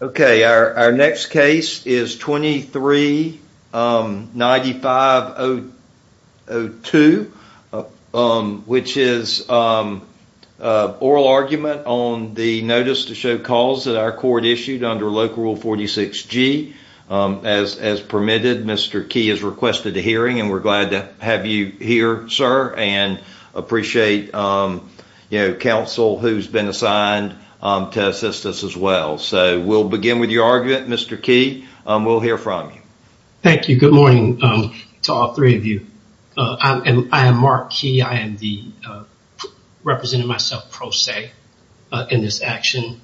Okay, our next case is 23-9502, which is an oral argument on the notice to show cause that our court issued under Local Rule 46G. As permitted, Mr. Key has requested a hearing, and we're glad to have you here, sir, and appreciate, you know, counsel who's been assigned to assist us as well. So we'll begin with your argument, Mr. Key, and we'll hear from you. Thank you. Good morning to all three of you. I am Mark Key. I am representing myself pro se in this action.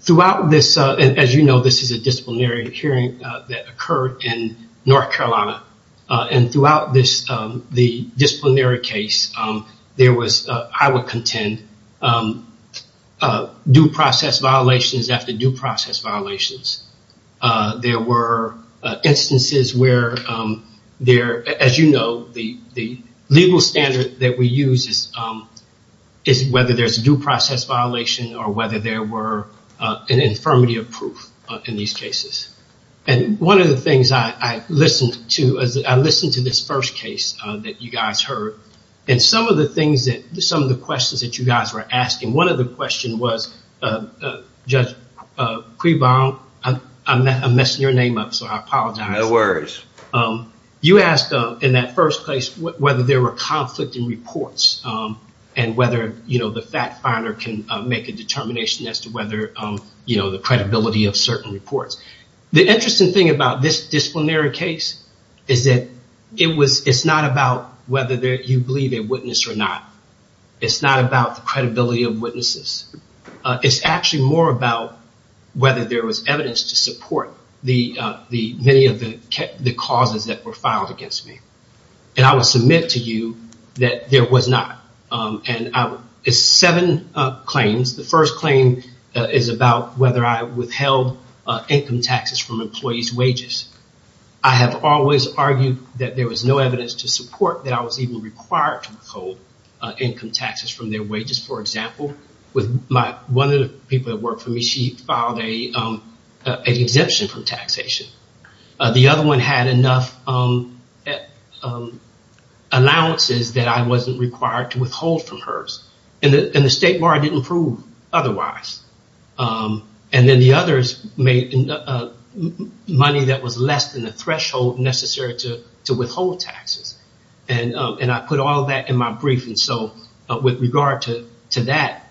Throughout this, as you know, this is a disciplinary hearing that occurred in North Carolina, and throughout this, the disciplinary case, there was, I would contend, due process violations after due process violations. There were instances where there, as you know, the legal standard that we use is whether there's a due process violation or whether there were an infirmity of proof in these cases. And one of the things I listened to, I listened to this first case that you guys heard, and some of the things that, some of the questions that you guys were asking, one of the questions was, Judge Prebaum, I'm messing your name up, so I apologize. No worries. You asked, in that first place, whether there were conflict in reports and whether, you know, the fact finder can make a determination as to whether, you know, the credibility of certain reports. The interesting thing about this disciplinary case is that it was, it's not about whether you believe a witness or not. It's not about the credibility of witnesses. It's actually more about whether there was evidence to support the, many of the causes that were filed against me. And I will submit to you that there was not, and it's seven claims. The first claim is about whether I withheld income taxes from employees' wages. I have always argued that there was no evidence to support that I was even required to withhold income taxes from their wages. For example, with my, one of the people that worked for me, she filed an exemption from The other one had enough allowances that I wasn't required to withhold from hers. And the state bar didn't prove otherwise. And then the others made money that was less than the threshold necessary to withhold taxes. And I put all of that in my brief. And so with regard to that,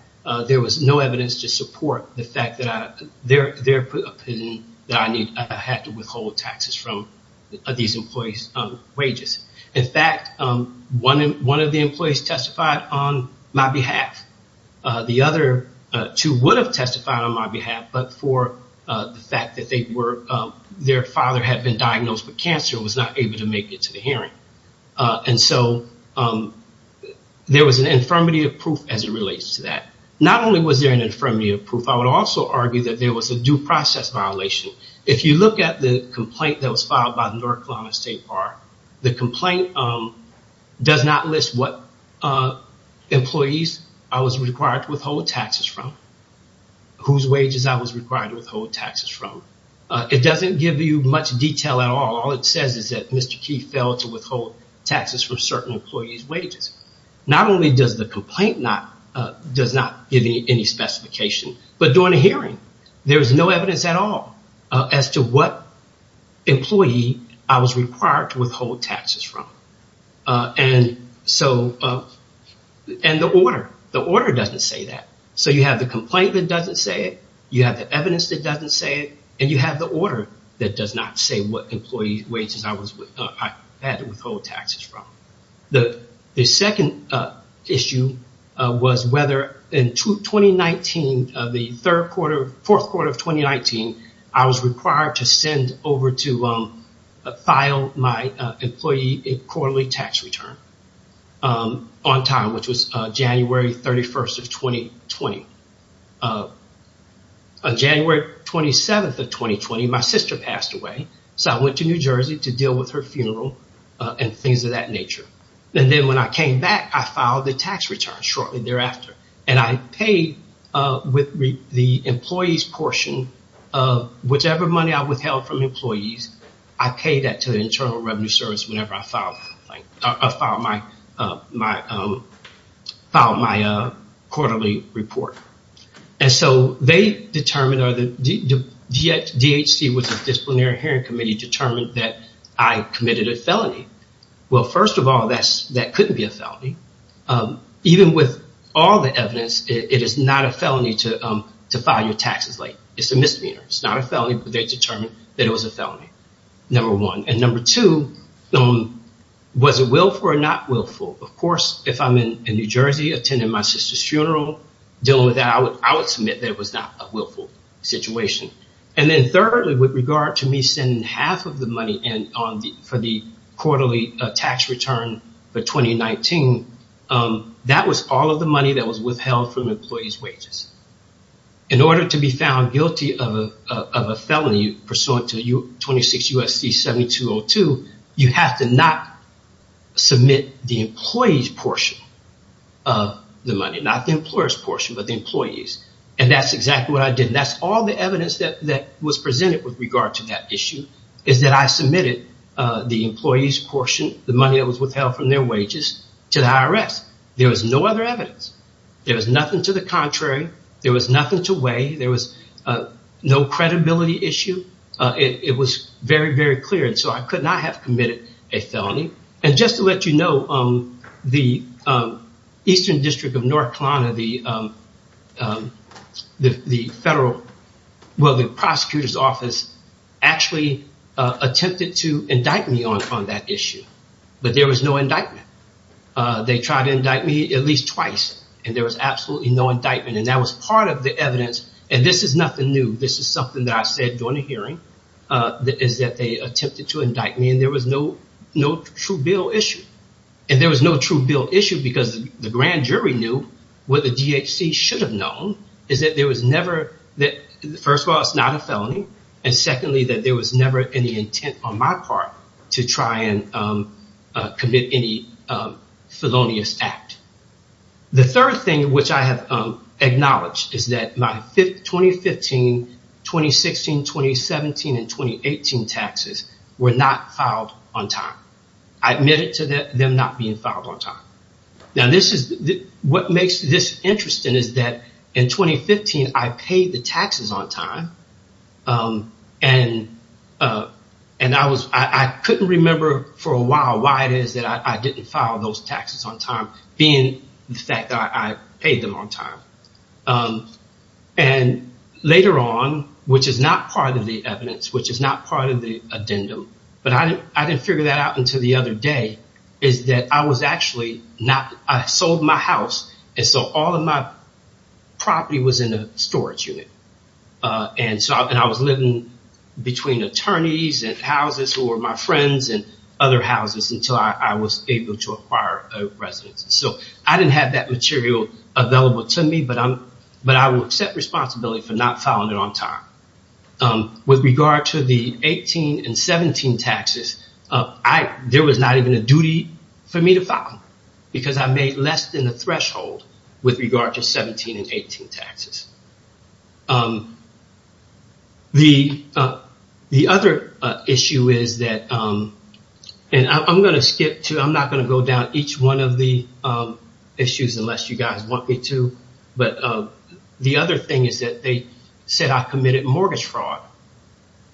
there was no evidence to support the fact that I, their opinion that I had to withhold taxes from these employees' wages. In fact, one of the employees testified on my behalf. The other two would have testified on my behalf, but for the fact that they were, their father had been diagnosed with cancer and was not able to make it to the hearing. And so there was an infirmity of proof as it relates to that. Not only was there an infirmity of proof, I would also argue that there was a due process violation. If you look at the complaint that was filed by the North Carolina State Bar, the complaint does not list what employees I was required to withhold taxes from, whose wages I was required to withhold taxes from. It doesn't give you much detail at all. All it says is that Mr. Key failed to withhold taxes from certain employees' wages. Not only does the complaint not, does not give you any specification, but during the employee, I was required to withhold taxes from. And so, and the order, the order doesn't say that. So you have the complaint that doesn't say it. You have the evidence that doesn't say it. And you have the order that does not say what employee wages I was, I had to withhold taxes from. The second issue was whether in 2019, the third quarter, fourth quarter of 2019, I was required to send over to file my employee a quarterly tax return on time, which was January 31st of 2020. January 27th of 2020, my sister passed away. So I went to New Jersey to deal with her funeral and things of that nature. And then when I came back, I filed the tax return shortly thereafter. And I paid with the employee's portion of whichever money I withheld from employees, I paid that to the Internal Revenue Service whenever I filed my quarterly report. And so they determined, or the DHC, which is the Disciplinary Hearing Committee, determined that I committed a felony. Well, first of all, that couldn't be a felony. Even with all the evidence, it is not a felony to file your taxes late. It's a misdemeanor. It's not a felony, but they determined that it was a felony, number one. And number two, was it willful or not willful? Of course, if I'm in New Jersey attending my sister's funeral, dealing with that, I would submit that it was not a willful situation. And then thirdly, with regard to me sending half of the money in for the quarterly tax return for 2019, that was all of the money that was withheld from employees' wages. In order to be found guilty of a felony pursuant to 26 U.S.C. 7202, you have to not submit the employee's portion of the money, not the employer's portion, but the employee's. And that's exactly what I did. That's all the evidence that was presented with regard to that issue, is that I submitted the employee's portion, the money that was withheld from their wages, to the IRS. There was no other evidence. There was nothing to the contrary. There was nothing to weigh. There was no credibility issue. It was very, very clear. And so I could not have committed a felony. And just to let you know, the Eastern District of North Carolina, the federal, well, the federal court tried to indict me on that issue, but there was no indictment. They tried to indict me at least twice, and there was absolutely no indictment. And that was part of the evidence. And this is nothing new. This is something that I said during the hearing, is that they attempted to indict me. And there was no true bill issue. And there was no true bill issue because the grand jury knew what the DHC should have known, is that there was never, first of all, it's not a felony. And secondly, that there was never any intent on my part to try and commit any felonious act. The third thing, which I have acknowledged, is that my 2015, 2016, 2017, and 2018 taxes were not filed on time. I admit it to them not being filed on time. Now, what makes this interesting is that in 2015, I paid the taxes on time. And I was, I couldn't remember for a while why it is that I didn't file those taxes on time, being the fact that I paid them on time. And later on, which is not part of the evidence, which is not part of the addendum, but I didn't figure that out until the other day, is that I was actually not, I sold my house. And so all of my property was in a storage unit. And so I was living between attorneys and houses who were my friends and other houses until I was able to acquire a residence. So I didn't have that material available to me, but I will accept responsibility for not filing it on time. With regard to the 18 and 17 taxes, there was not even a duty for me to file because I made less than the threshold with regard to 17 and 18 taxes. The other issue is that, and I'm going to skip to, I'm not going to go down each one of the issues unless you guys want me to, but the other thing is that they said I committed mortgage fraud.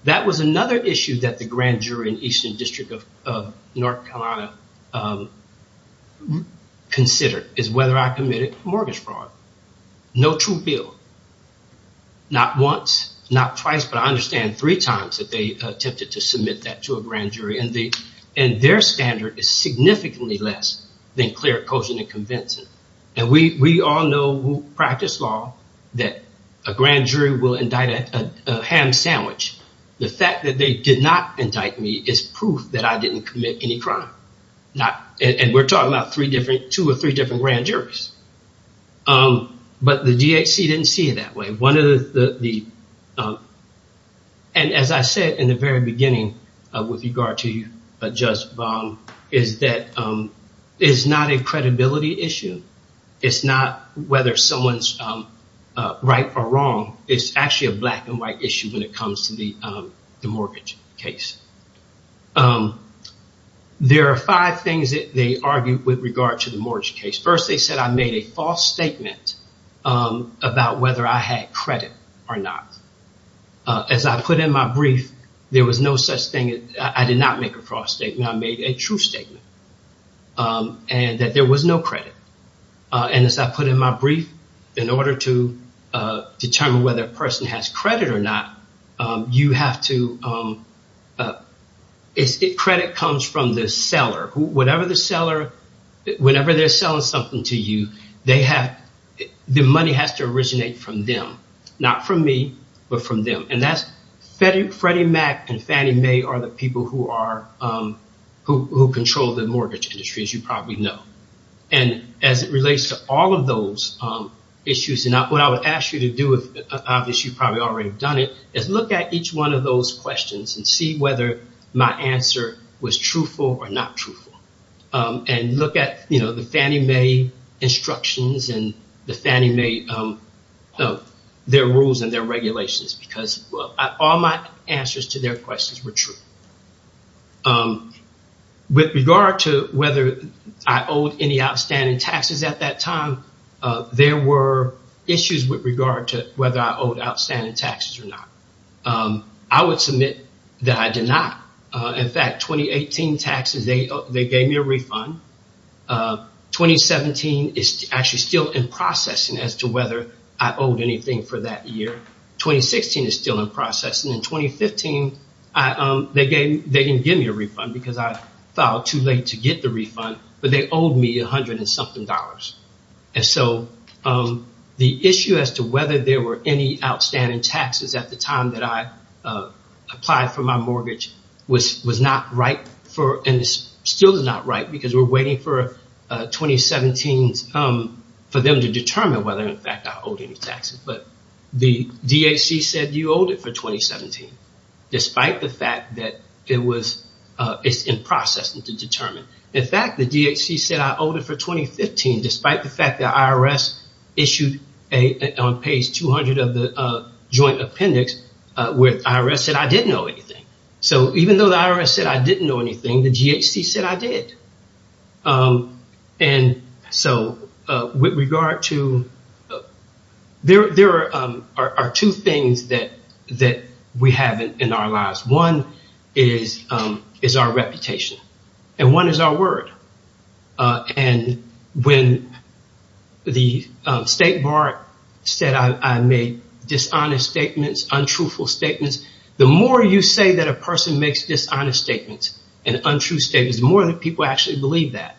That was another issue that the grand jury in Eastern District of North Carolina considered, is whether I committed mortgage fraud. No true bill. Not once, not twice, but I understand three times that they attempted to submit that to a grand jury and their standard is significantly less than clear, cogent and convincing. And we all know, we practice law, that a grand jury will indict a ham sandwich. The fact that they did not indict me is proof that I didn't commit any crime. And we're talking about two or three different grand juries. But the DHC didn't see it that way. One of the, and as I said in the very beginning with regard to Judge Baum, is that it's not a credibility issue. It's not whether someone's right or wrong. It's actually a black and white issue when it comes to the mortgage case. There are five things that they argued with regard to the mortgage case. First, they said I made a false statement about whether I had credit or not. As I put in my brief, there was no such thing. I did not make a false statement. I made a true statement and that there was no credit. And as I put in my brief, in order to determine whether a person has credit or not, you have to, credit comes from the seller. Whatever the seller, whenever they're selling something to you, the money has to originate from them. Not from me, but from them. And that's Freddie Mac and Fannie Mae are the people who control the mortgage industry, as you probably know. And as it relates to all of those issues, what I would ask you to do, obviously you probably already have done it, is look at each one of those Fannie Mae instructions and the Fannie Mae, their rules and their regulations, because all my answers to their questions were true. With regard to whether I owed any outstanding taxes at that time, there were issues with regard to whether I owed outstanding taxes or not. I would submit that I did not. In fact, 2018 taxes, they gave me a refund. 2017 is actually still in processing as to whether I owed anything for that year. 2016 is still in processing. In 2015, they didn't give me a refund because I filed too late to get the refund, but they owed me 100 and something dollars. And so the issue as to whether there were any outstanding taxes at the time that I applied for my mortgage was not right, and still is not right, because we're waiting for 2017 for them to determine whether, in fact, I owed any taxes. But the DHC said you owed it for 2017, despite the fact that it's in processing to determine. In fact, the DHC said I owed it for 2015, despite the fact that IRS issued, on page 200 of the joint appendix, where the IRS said I didn't owe anything. So even though the IRS said I didn't owe anything, the DHC said I did. There are two things that we have in our lives. One is our reputation, and one is our word. When the state bar said I made dishonest statements, untruthful statements, the more you say that a person makes dishonest statements and untrue statements, the more that people actually believe that,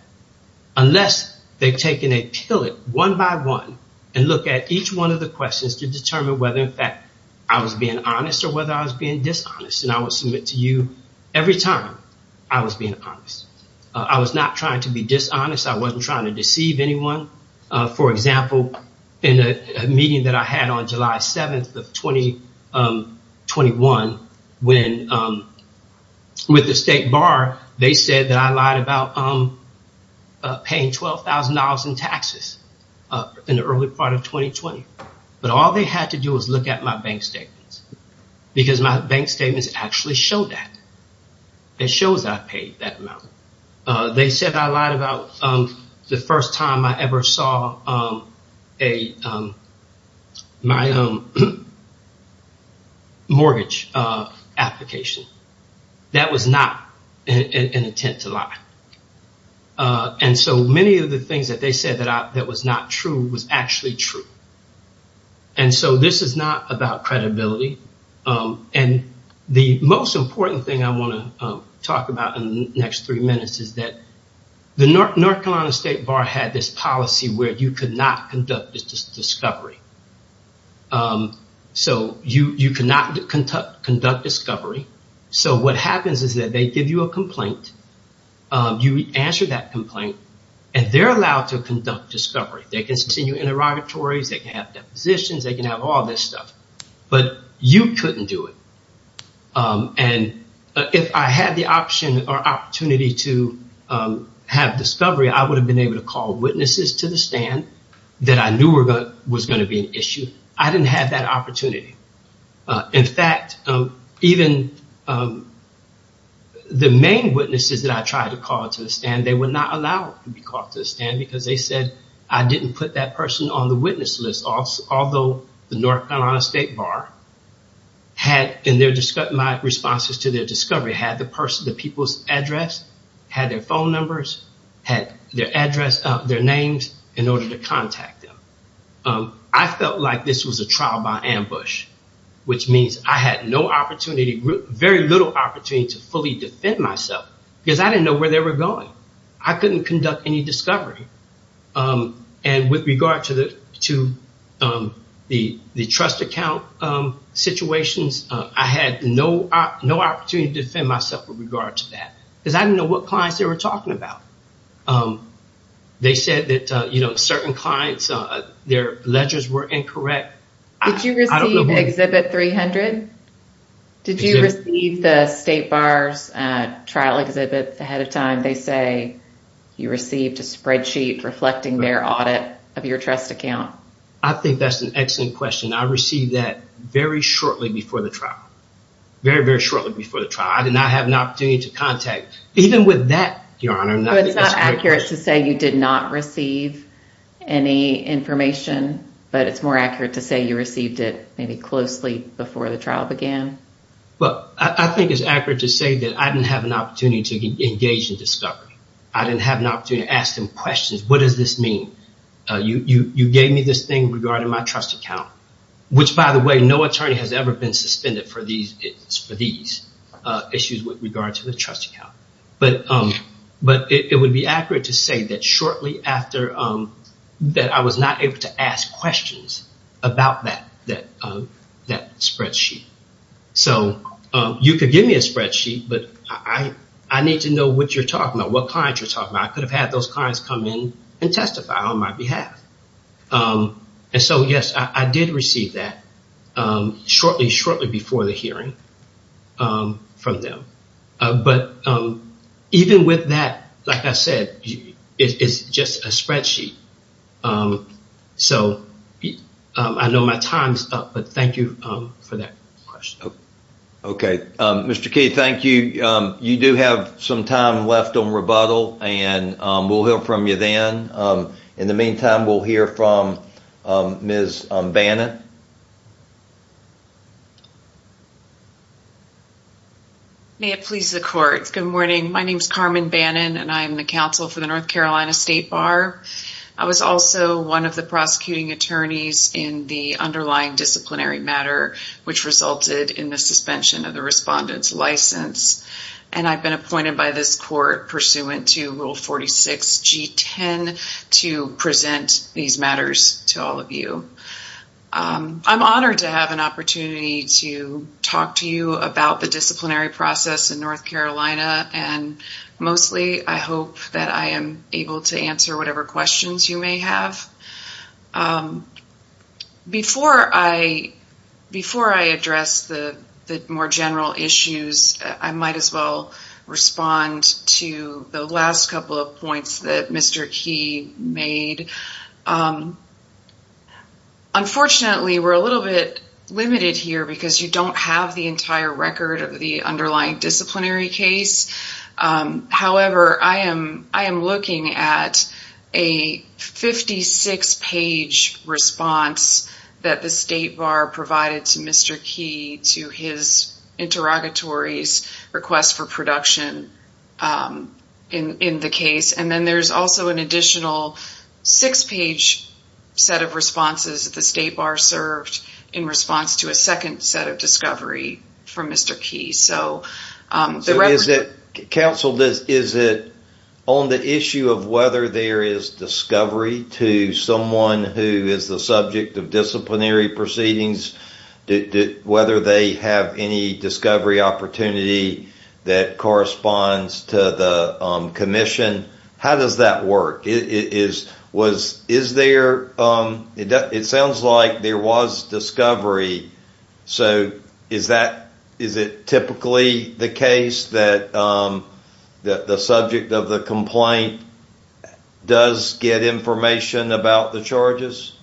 unless they've taken a pillot, one by one, and look at each one of the questions to determine whether, in fact, I was being honest or whether I was being dishonest. And I would submit to you every time I was being honest. I was not trying to be dishonest. I wasn't trying to deceive anyone. For example, in a meeting that I had on July 7th of 2021, with the state bar, they said that I lied about paying $12,000 in taxes in the early part of 2020. But all they had to do was look at my bank statements, because my bank statements actually showed that. It shows I paid that amount. They said I lied about the first time I ever saw my mortgage application. That was not an attempt to lie. And so many of the things that they said that was not true was actually true. And so this is not about credibility. And the most important thing I want to talk about in the next three minutes is that the North Carolina State Bar had this policy where you could not conduct discovery. So you cannot conduct discovery. So what happens is that they give you a complaint. You answer that complaint, and they're allowed to conduct discovery. They continue interrogatories. They can have depositions. They can have all this stuff. But you couldn't do it. And if I had the option or opportunity to have discovery, I would have been able to call witnesses to the stand that I knew was going to be an issue. I didn't have that opportunity. In fact, even the main witnesses that I tried to call to the stand, they were not allowed to be called to the stand because they said I didn't put that person on the witness list, although the North Carolina State Bar had, in my responses to their discovery, had the people's address, had their phone numbers, had their address, their names in order to contact them. I felt like this was a trial by ambush, which means I had no opportunity, very little opportunity to fully defend myself because I didn't know where they were going. I couldn't conduct any discovery. And with regard to the trust account situations, I had no opportunity to defend myself with regard to that because I didn't know what clients they were talking about. They said that certain clients, their ledgers were incorrect. Did you receive Exhibit 300? Did you receive the State Bar's trial exhibit ahead of time? They say you received a spreadsheet reflecting their audit of your trust account. I think that's an excellent question. I received that very shortly before the trial, very, very shortly before the trial. I did not have an opportunity to contact, even with that, Your Honor. It's not accurate to say you did not receive any information, but it's more accurate to say you received it maybe closely before the trial began. Well, I think it's accurate to say that I didn't have an opportunity to engage in discovery. I didn't have an opportunity to ask them questions. What does this mean? You gave me this thing regarding my trust account, which by the way, no attorney has ever been suspended for these issues with regard to the trust account. But it would be accurate to say that shortly after that I was not able to ask questions about that spreadsheet. So you could give me a spreadsheet, but I need to know what you're talking about, what clients you're talking about. I could have had those clients come in and testify on my behalf. And so, yes, I did receive that shortly, shortly before the hearing from them. But even with that, like I said, it's just a spreadsheet. So I know my time's up, but thank you for that question. Okay. Mr. Key, thank you. You do have some time left on rebuttal, and we'll hear from you then. In the meantime, we'll hear from Ms. Bannon. May it please the court. Good morning. My name is Carmen Bannon, and I am the counsel for the North Carolina State Bar. I was also one of the prosecuting attorneys in the underlying disciplinary matter, which resulted in the suspension of the respondent's license. And I've been appointed by this court pursuant to Rule 46G10 to present these matters to all of you. I'm honored to have an opportunity to talk to you about the disciplinary process in North Carolina, and mostly I hope that I am able to answer whatever questions you may have. Before I address the more general issues, I might as well respond to the last couple of that Mr. Key made. Unfortunately, we're a little bit limited here because you don't have the entire record of the underlying disciplinary case. However, I am looking at a 56-page response that the State Bar provided to Mr. Key to his interrogatory's request for introduction in the case. And then there's also an additional six-page set of responses that the State Bar served in response to a second set of discovery from Mr. Key. So is it, counsel, is it on the issue of whether there is discovery to someone who is the subject of disciplinary proceedings, whether they have any discovery opportunity that corresponds to the commission? How does that work? It sounds like there was discovery. So is it typically the case that the subject of the complaint does get information about the charges?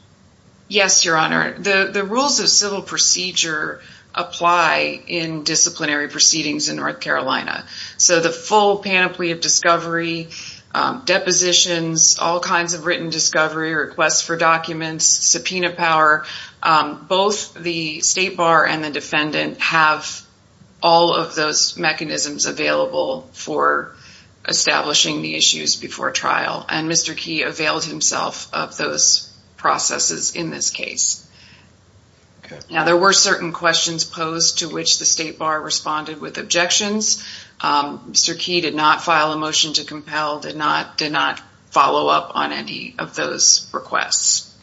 Yes, Your Honor. The rules of civil procedure apply in disciplinary proceedings in North Carolina. So the full panoply of discovery, depositions, all kinds of written discovery, requests for documents, subpoena power, both the State Bar and the defendant have all of those mechanisms available for establishing the issues before trial. And Mr. Key availed himself of those processes in this case. Now there were certain questions posed to which the State Bar responded with objections. Mr. Key did not file a motion to compel, did not follow up on any of those requests.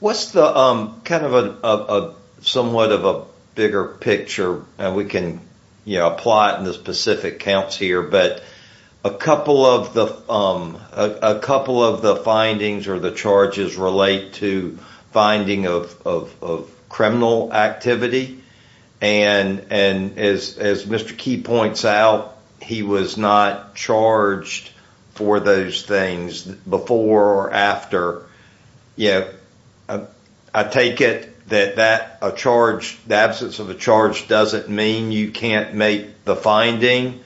What's the, kind of a, somewhat of a bigger picture, and we can, you know, apply it in the specific counts here, but a couple of the, a couple of the findings or the charges relate to finding of criminal activity. And as Mr. Key points out, he was not charged for those things before or after. Yeah, I take it that that, a charge, the absence of a charge doesn't mean you can't make the finding.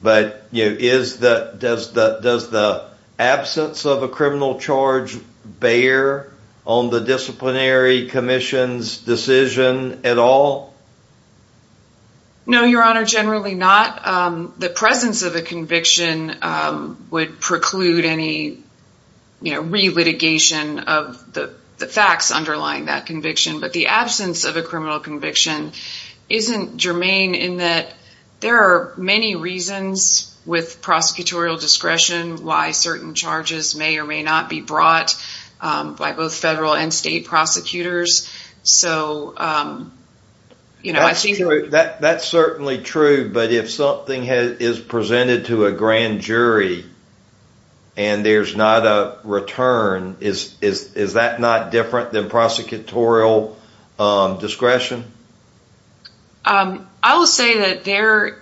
But, you know, is the, does the, does the absence of a criminal charge bear on the disciplinary commission's decision at all? No, Your Honor, generally not. The presence of a conviction would preclude any, you know, re-litigation of the facts underlying that conviction. But the absence of a criminal conviction isn't germane in that there are many reasons with prosecutorial discretion why certain charges may or may not be brought by both federal and state prosecutors. So, you know. That's true, that's certainly true, but if something is presented to a grand jury and there's not a return, is that not different than prosecutorial discretion? I will say that there,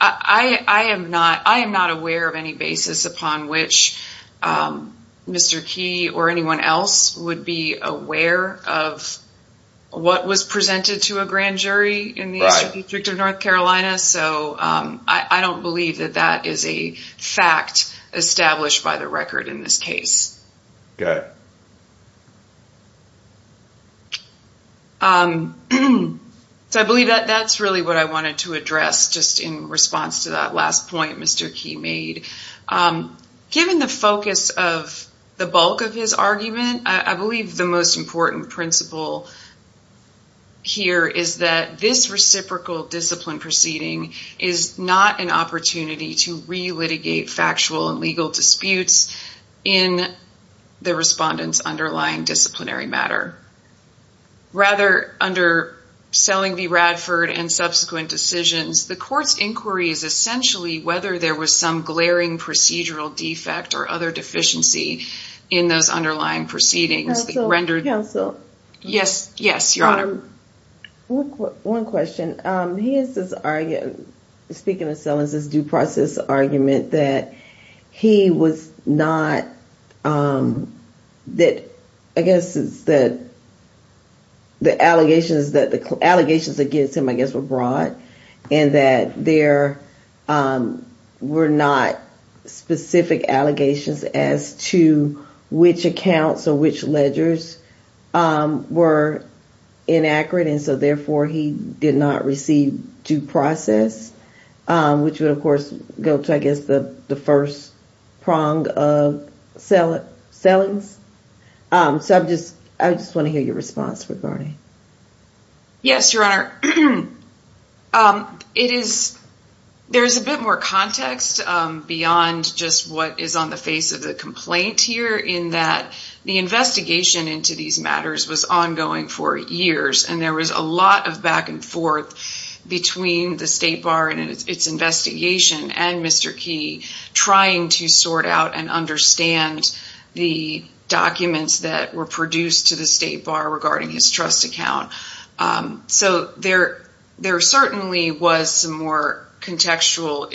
I am not, I am not aware of any basis upon which Mr. Key or anyone else would be aware of what was presented to a grand jury in the Eastern District of North Carolina. So I don't believe that that is a fact established by the record in this case. Okay. So I believe that that's really what I wanted to address just in response to that last point Mr. Key made. Given the focus of the bulk of his argument, I believe the most important principle here is that this reciprocal discipline proceeding is not an opportunity to re-litigate factual and legal disputes in the respondent's underlying disciplinary matter. Rather, under Selling v. Radford and subsequent decisions, the court's inquiry is essentially whether there was some glaring procedural defect or other deficiency in those underlying proceedings. Yes, yes, your honor. One question. He has this argument, speaking of Selling's due process argument, that he was not, that I guess it's that the allegations that the allegations against him, I guess, were broad and that there were not specific allegations as to which accounts or which ledgers were inaccurate and so therefore he did not receive due process, which would of I guess the first prong of Selling's. So I just want to hear your response regarding that. Yes, your honor. There's a bit more context beyond just what is on the face of the complaint here in that the investigation into these matters was ongoing for years and there was a lot of forth between the State Bar and its investigation and Mr. Key trying to sort out and understand the documents that were produced to the State Bar regarding his trust account. So there certainly was some more contextual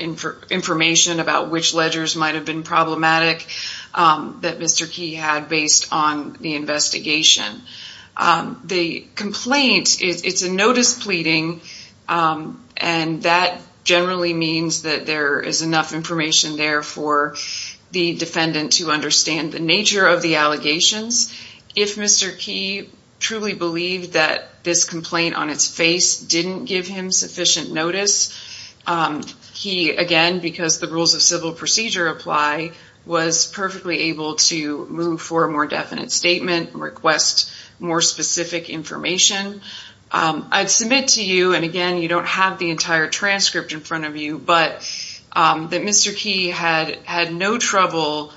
information about which ledgers might have been problematic that Mr. Key had based on the investigation. The complaint, it's a notice pleading and that generally means that there is enough information there for the defendant to understand the nature of the allegations. If Mr. Key truly believed that this complaint on its face didn't give him sufficient notice, he again, because the rules of civil procedure apply, was perfectly able to move for a more definite statement, request more specific information. I'd submit to you, and again, you don't have the entire transcript in front of you, but that Mr. Key had had no trouble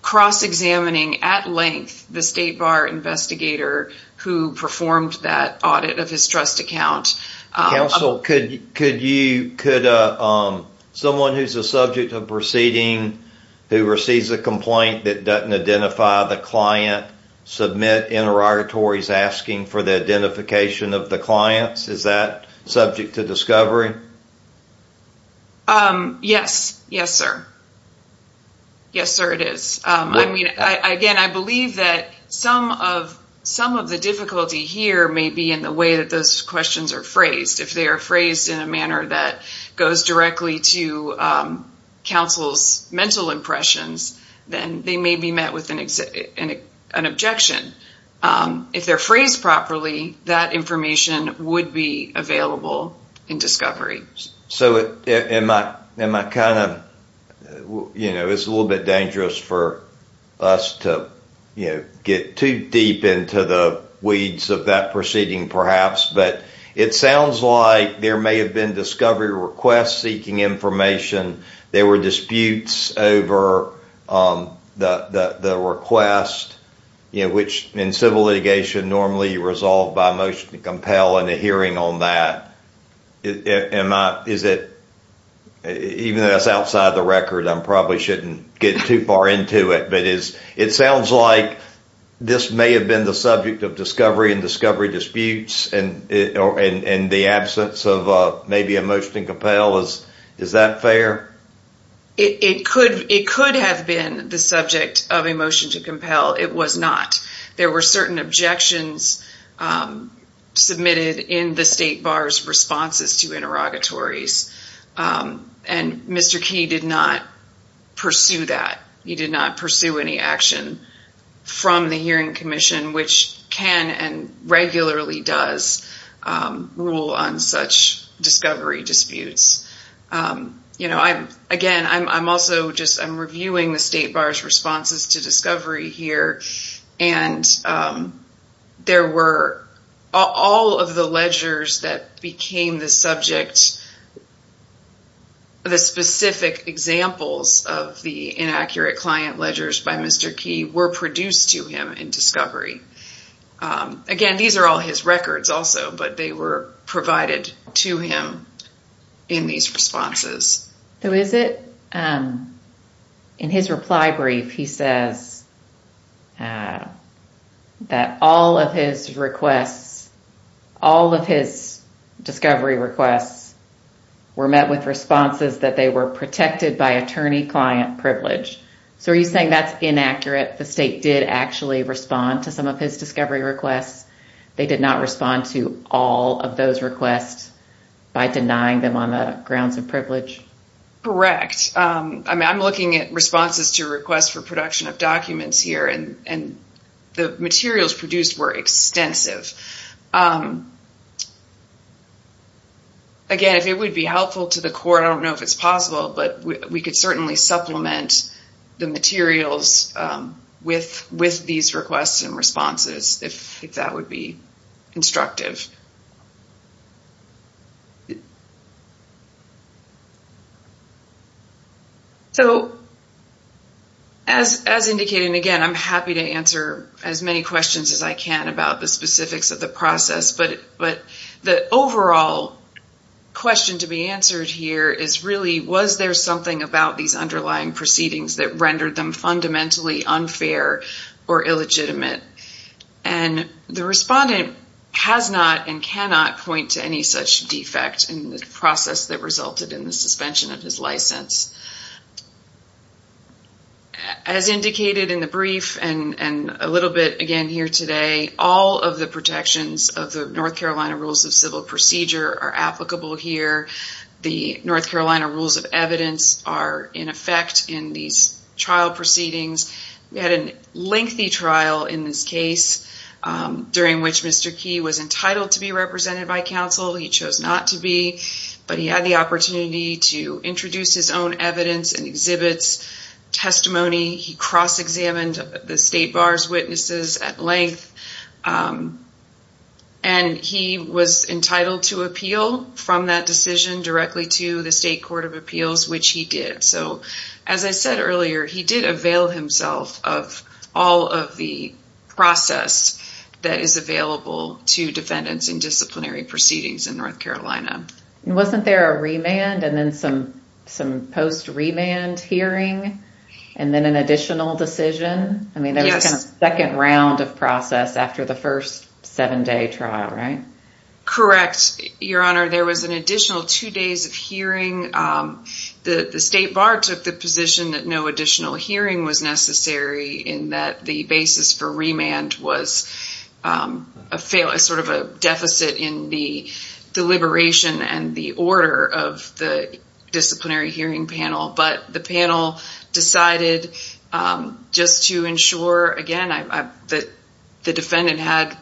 cross-examining at length the State Bar investigator who performed that audit of his trust account. Counsel, could someone who's a subject of proceeding who receives a complaint that doesn't identify the client submit interrogatories asking for the identification of the clients? Is that subject to discovery? Yes. Yes, sir. Yes, sir, it is. Again, I believe that some of the difficulty here may be in the way that those questions are phrased. If they are phrased in a manner that goes directly to counsel's mental impressions, then they may be met with an objection. If they're phrased properly, that information would be available in discovery. It's a little bit dangerous for us to get too deep into the weeds of that proceeding, perhaps, but it sounds like there may have been discovery requests seeking information. There were disputes over the request, which in civil litigation normally resolve by motion to compel and a hearing on that. Even though that's outside the record, I probably shouldn't get too far into it, but it sounds like this may have been the subject of discovery and discovery disputes in the absence of maybe a motion to compel. Is that fair? It could have been the subject of a motion to compel. It was not. There were certain objections submitted in the state bar's responses to interrogatories, and Mr. Key did not pursue that. He did not pursue any action from the hearing commission, which can and regularly does rule on discovery disputes. Again, I'm reviewing the state bar's responses to discovery here, and all of the ledgers that became the subject, the specific examples of the inaccurate client ledgers by Mr. Key were produced to him in discovery. Again, these are all his also, but they were provided to him in these responses. So is it in his reply brief, he says that all of his requests, all of his discovery requests were met with responses that they were protected by attorney-client privilege. So are you saying that's inaccurate? The state did actually respond to some of his discovery requests. They did not respond to all of those requests by denying them on the grounds of privilege? Correct. I'm looking at responses to requests for production of documents here, and the materials produced were extensive. Again, if it would be helpful to the court, I don't know if it's possible, but we could certainly supplement the materials with these requests and responses if that would be constructive. So as indicated, and again, I'm happy to answer as many questions as I can about the specifics of the process, but the overall question to be answered here is really, was there something about these underlying proceedings that rendered them fundamentally unfair or illegitimate? And the respondent has not and cannot point to any such defect in the process that resulted in the suspension of his license. As indicated in the brief and a little bit again here today, all of the protections of the North Carolina Rules of Civil Procedure are applicable here. The North Carolina Rules of Evidence are in effect in these trial proceedings. We had a lengthy trial in this case, during which Mr. Key was entitled to be represented by counsel. He chose not to be, but he had the opportunity to introduce his own evidence and exhibits, testimony. He cross-examined the state bar's witnesses at length, and he was entitled to appeal from that decision directly to the state court of appeals, which he did. So as I said earlier, he did avail himself of all of the process that is available to defendants in disciplinary proceedings in North Carolina. Wasn't there a remand and then some post-remand hearing and then an additional decision? I mean, there was a second round of process after the first seven-day trial, right? Correct, Your Honor. There was an additional two days of hearing. The state bar took the position that no additional hearing was necessary, in that the basis for remand was sort of a deficit in the deliberation and the order of the disciplinary hearing panel. But the decided just to ensure, again, that the defendant had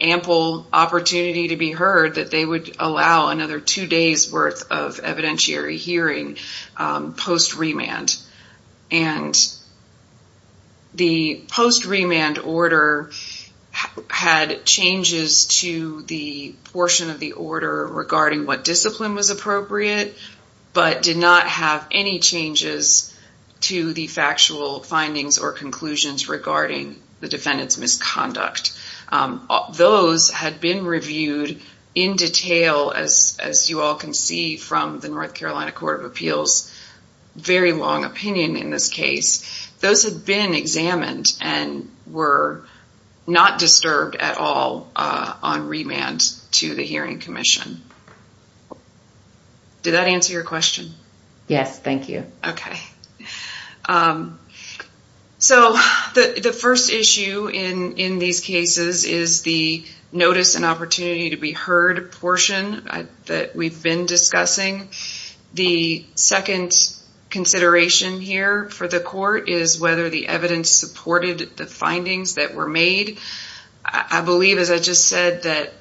ample opportunity to be heard, that they would allow another two days' worth of evidentiary hearing post-remand. And the post-remand order had changes to the portion of the order regarding what discipline was appropriate, but did not have any changes to the factual findings or conclusions regarding the defendant's misconduct. Those had been reviewed in detail, as you all can see from the North Carolina Court of Appeals, very long opinion in this case. Those have been examined and were not disturbed at all on remand to the hearing commission. Did that answer your question? Yes, thank you. Okay. So, the first issue in these cases is the notice and opportunity to be heard portion that we've been discussing. The second consideration here for the court is whether the evidence supported the findings that were made. I believe, as I just said, that,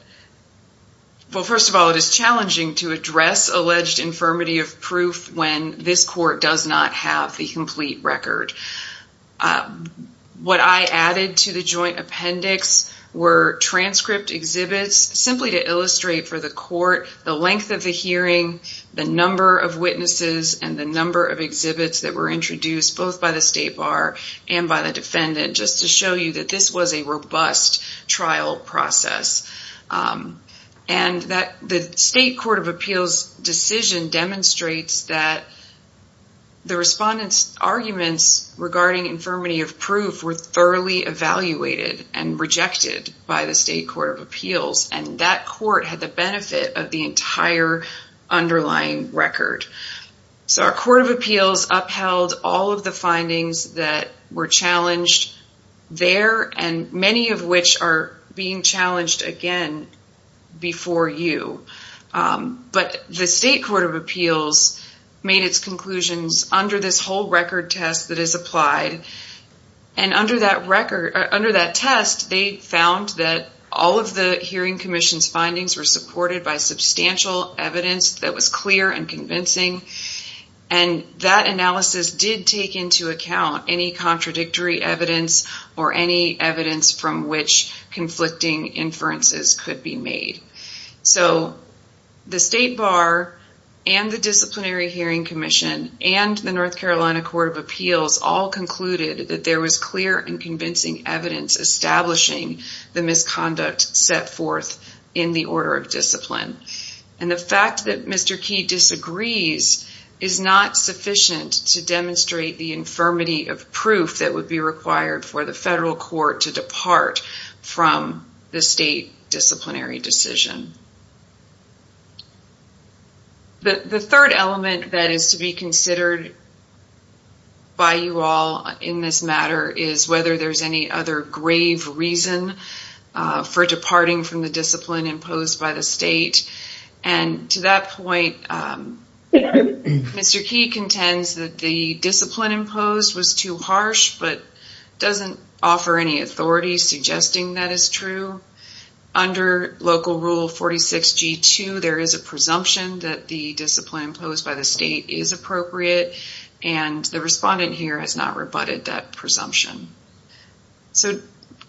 well, first of all, it is challenging to address alleged infirmity of proof when this court does not have the complete record. What I added to the joint appendix were transcript exhibits simply to illustrate for the court the length of the hearing, the number of witnesses, and the number of exhibits that were introduced both by the State Bar and by the defendant, just to show you that this was a robust trial process. The State Court of Appeals decision demonstrates that the respondents' arguments regarding infirmity of proof were thoroughly evaluated and rejected by the State Court of Appeals, and that court had the benefit of the entire underlying record. So, our Court of Appeals upheld all of the findings that were challenged there, and many of which are being challenged again before you. But the State Court of Appeals made its conclusions under this whole record test that is applied, and under that test, they found that all of the hearing commission's findings were supported by substantial evidence that was clear and convincing, and that analysis did take into account any contradictory evidence or any evidence from which conflicting inferences could be made. So, the State Bar and the Disciplinary Hearing Commission and the North Carolina Court of Appeals all concluded that there was clear and convincing evidence establishing the misconduct set forth in the order of discipline. And the fact that Mr. Heide disagrees is not sufficient to demonstrate the infirmity of proof that would be required for the federal court to depart from the state disciplinary decision. The third element that is to be considered by you all in this matter is whether there's any other grave reason for departing the discipline imposed by the state. And to that point, Mr. Key contends that the discipline imposed was too harsh, but doesn't offer any authority suggesting that is true. Under Local Rule 46G2, there is a presumption that the discipline imposed by the state is appropriate, and the respondent here has not rebutted that presumption. So,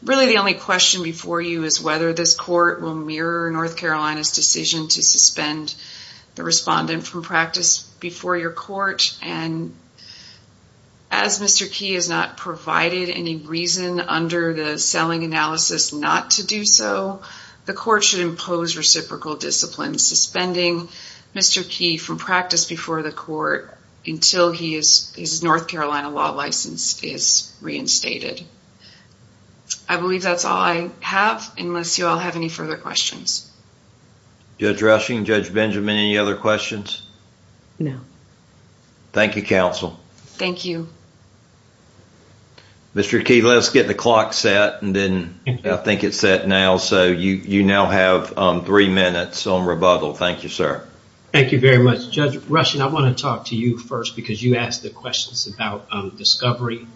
really the only question before you is whether this court will mirror North Carolina's decision to suspend the respondent from practice before your court. And as Mr. Key has not provided any reason under the selling analysis not to do so, the court should impose reciprocal discipline, suspending Mr. Key from practice before the court until his North Carolina law license is reinstated. I believe that's all I have unless you all have any further questions. Judge Rushing, Judge Benjamin, any other questions? No. Thank you, counsel. Thank you. Mr. Key, let's get the clock set and then I think it's set now. So, you now have three minutes on rebuttal. Thank you, sir. Thank you very much. Judge Rushing, I want to talk to you first because you asked the questions about discovery.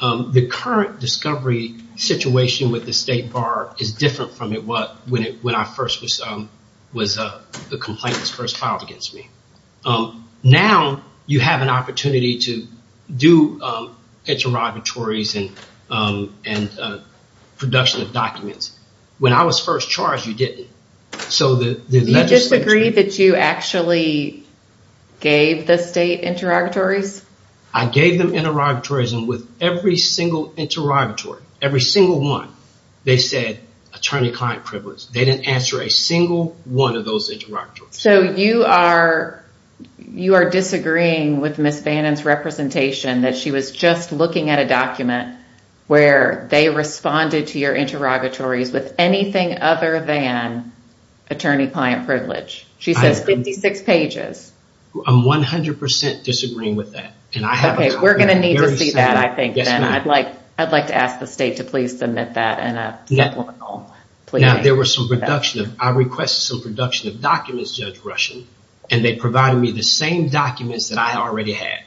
The current discovery situation with the state bar is different from what it was when the complaint was first filed against me. Now, you have an opportunity to do interrogatories and production of documents. When I was first charged, you didn't. So, the legislation... Do you disagree that you actually gave the state interrogatories? I gave them interrogatories and with every single interrogatory, every single one, they said attorney-client privilege. They didn't answer a single one of those interrogatories. So, you are disagreeing with Ms. Bannon's representation that she was just looking at a document where they responded to your interrogatories with anything other than attorney-client privilege. She says 56 pages. I'm 100% disagreeing with that. Okay. We're going to need to see that, I think, then. I'd like to ask the state to please submit that in a supplemental plea. Now, I requested some production of documents, Judge Rushing, and they provided me the same documents that I already had.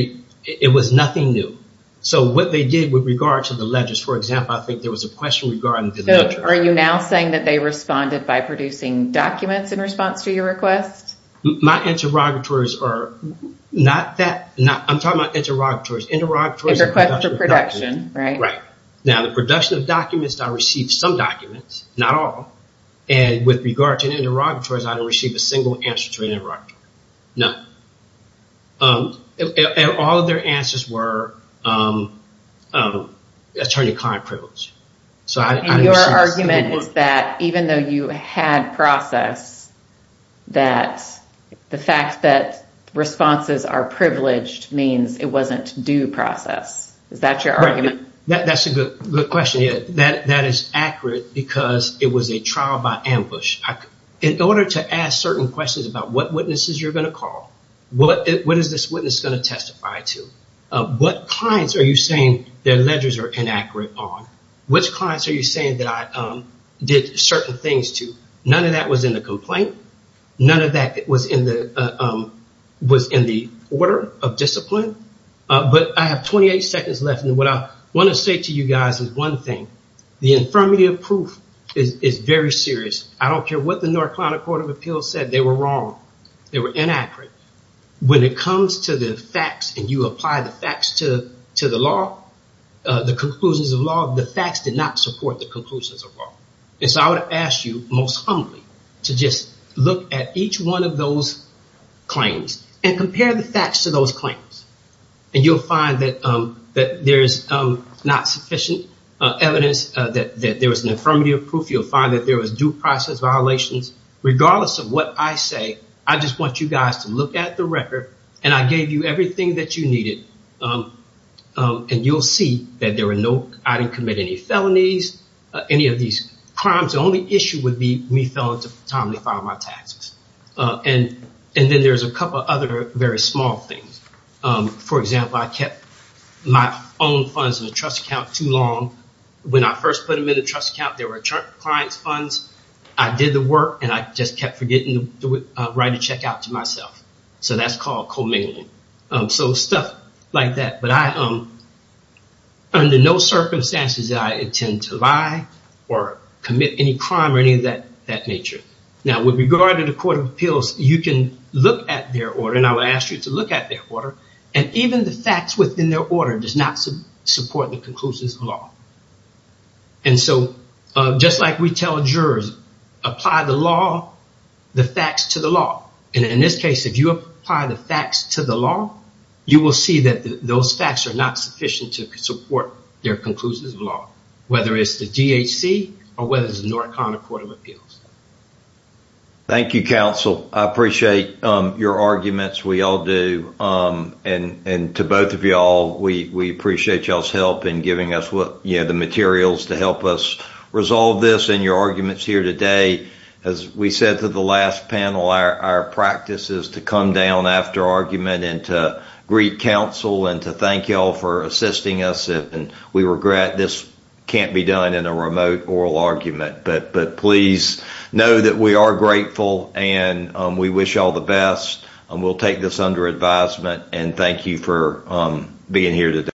It was nothing new. So, what they did with regards to the ledgers, for example, I think there was a question regarding the ledger. Are you now saying that they responded by producing documents in response to your request? My interrogatories are not that... I'm talking about interrogatories. Interrogatories and production of documents. Interrogatories and production, right. Right. Now, the production of documents, I received some documents, not all, and with regards to interrogatories, I didn't receive a single answer to an interrogatory. None. And all of their answers were attorney-client privilege. And your argument is that even though you had process, that the fact that responses are privileged means it wasn't due process. Is that your argument? That's a good question. That is accurate because it was a trial by ambush. In order to ask certain questions about what witnesses you're going to call, what is this witness going to testify to? What clients are you saying their ledgers are inaccurate on? Which clients are you saying that I did certain things to? None of that was in the complaint. None of that was in the order of discipline. But I have 28 seconds left, and what I want to say to you guys is one thing. The infirmity of proof is very serious. I don't care what the North Carolina Court of Appeals said. They were wrong. They were inaccurate. When it comes to the facts and you apply the facts to the law, the conclusions of law, the facts did not support the conclusions of law. And so I would ask you most humbly to just look at each one of those claims and compare the facts to those claims. And you'll find that there's not sufficient evidence that there was an infirmity of proof. You'll find that there was due process violations. Regardless of what I say, I just want you guys to look at the record, and I gave you everything that you needed. And you'll see that I didn't commit any felonies, any of these crimes. The only issue would be me failing to timely file my taxes. And then there's a couple other very small things. For example, I kept my own funds in a trust account too long. When I first put them in the trust account, they were a client's funds. I did the work, and I just kept forgetting to write a check out to myself. So that's called commingling. So stuff like that. But under no circumstances did I intend to lie or commit any crime or any of that nature. Now, with regard to the Court of Appeals, you can look at their order, and I would ask you to look at their order. And even the facts within their order does not support the conclusions of law. And so just like we tell jurors, apply the law, the facts to the law. And in this case, if you apply the facts to the law, you will see that those facts are not sufficient to support their conclusions of law, whether it's the DHC or whether it's the North Carolina Court of Appeals. Thank you, counsel. I appreciate your arguments. We all do. And to both of y'all, we appreciate y'all's help in giving us the materials to help us resolve this and your arguments here today. As we said to the last panel, our practice is to come down after argument and to greet counsel and to thank y'all for assisting us. And we regret this can't be done in a remote oral argument. But please know that we are grateful and we wish y'all the best. And we'll take this under advisement. And thank you for being here today.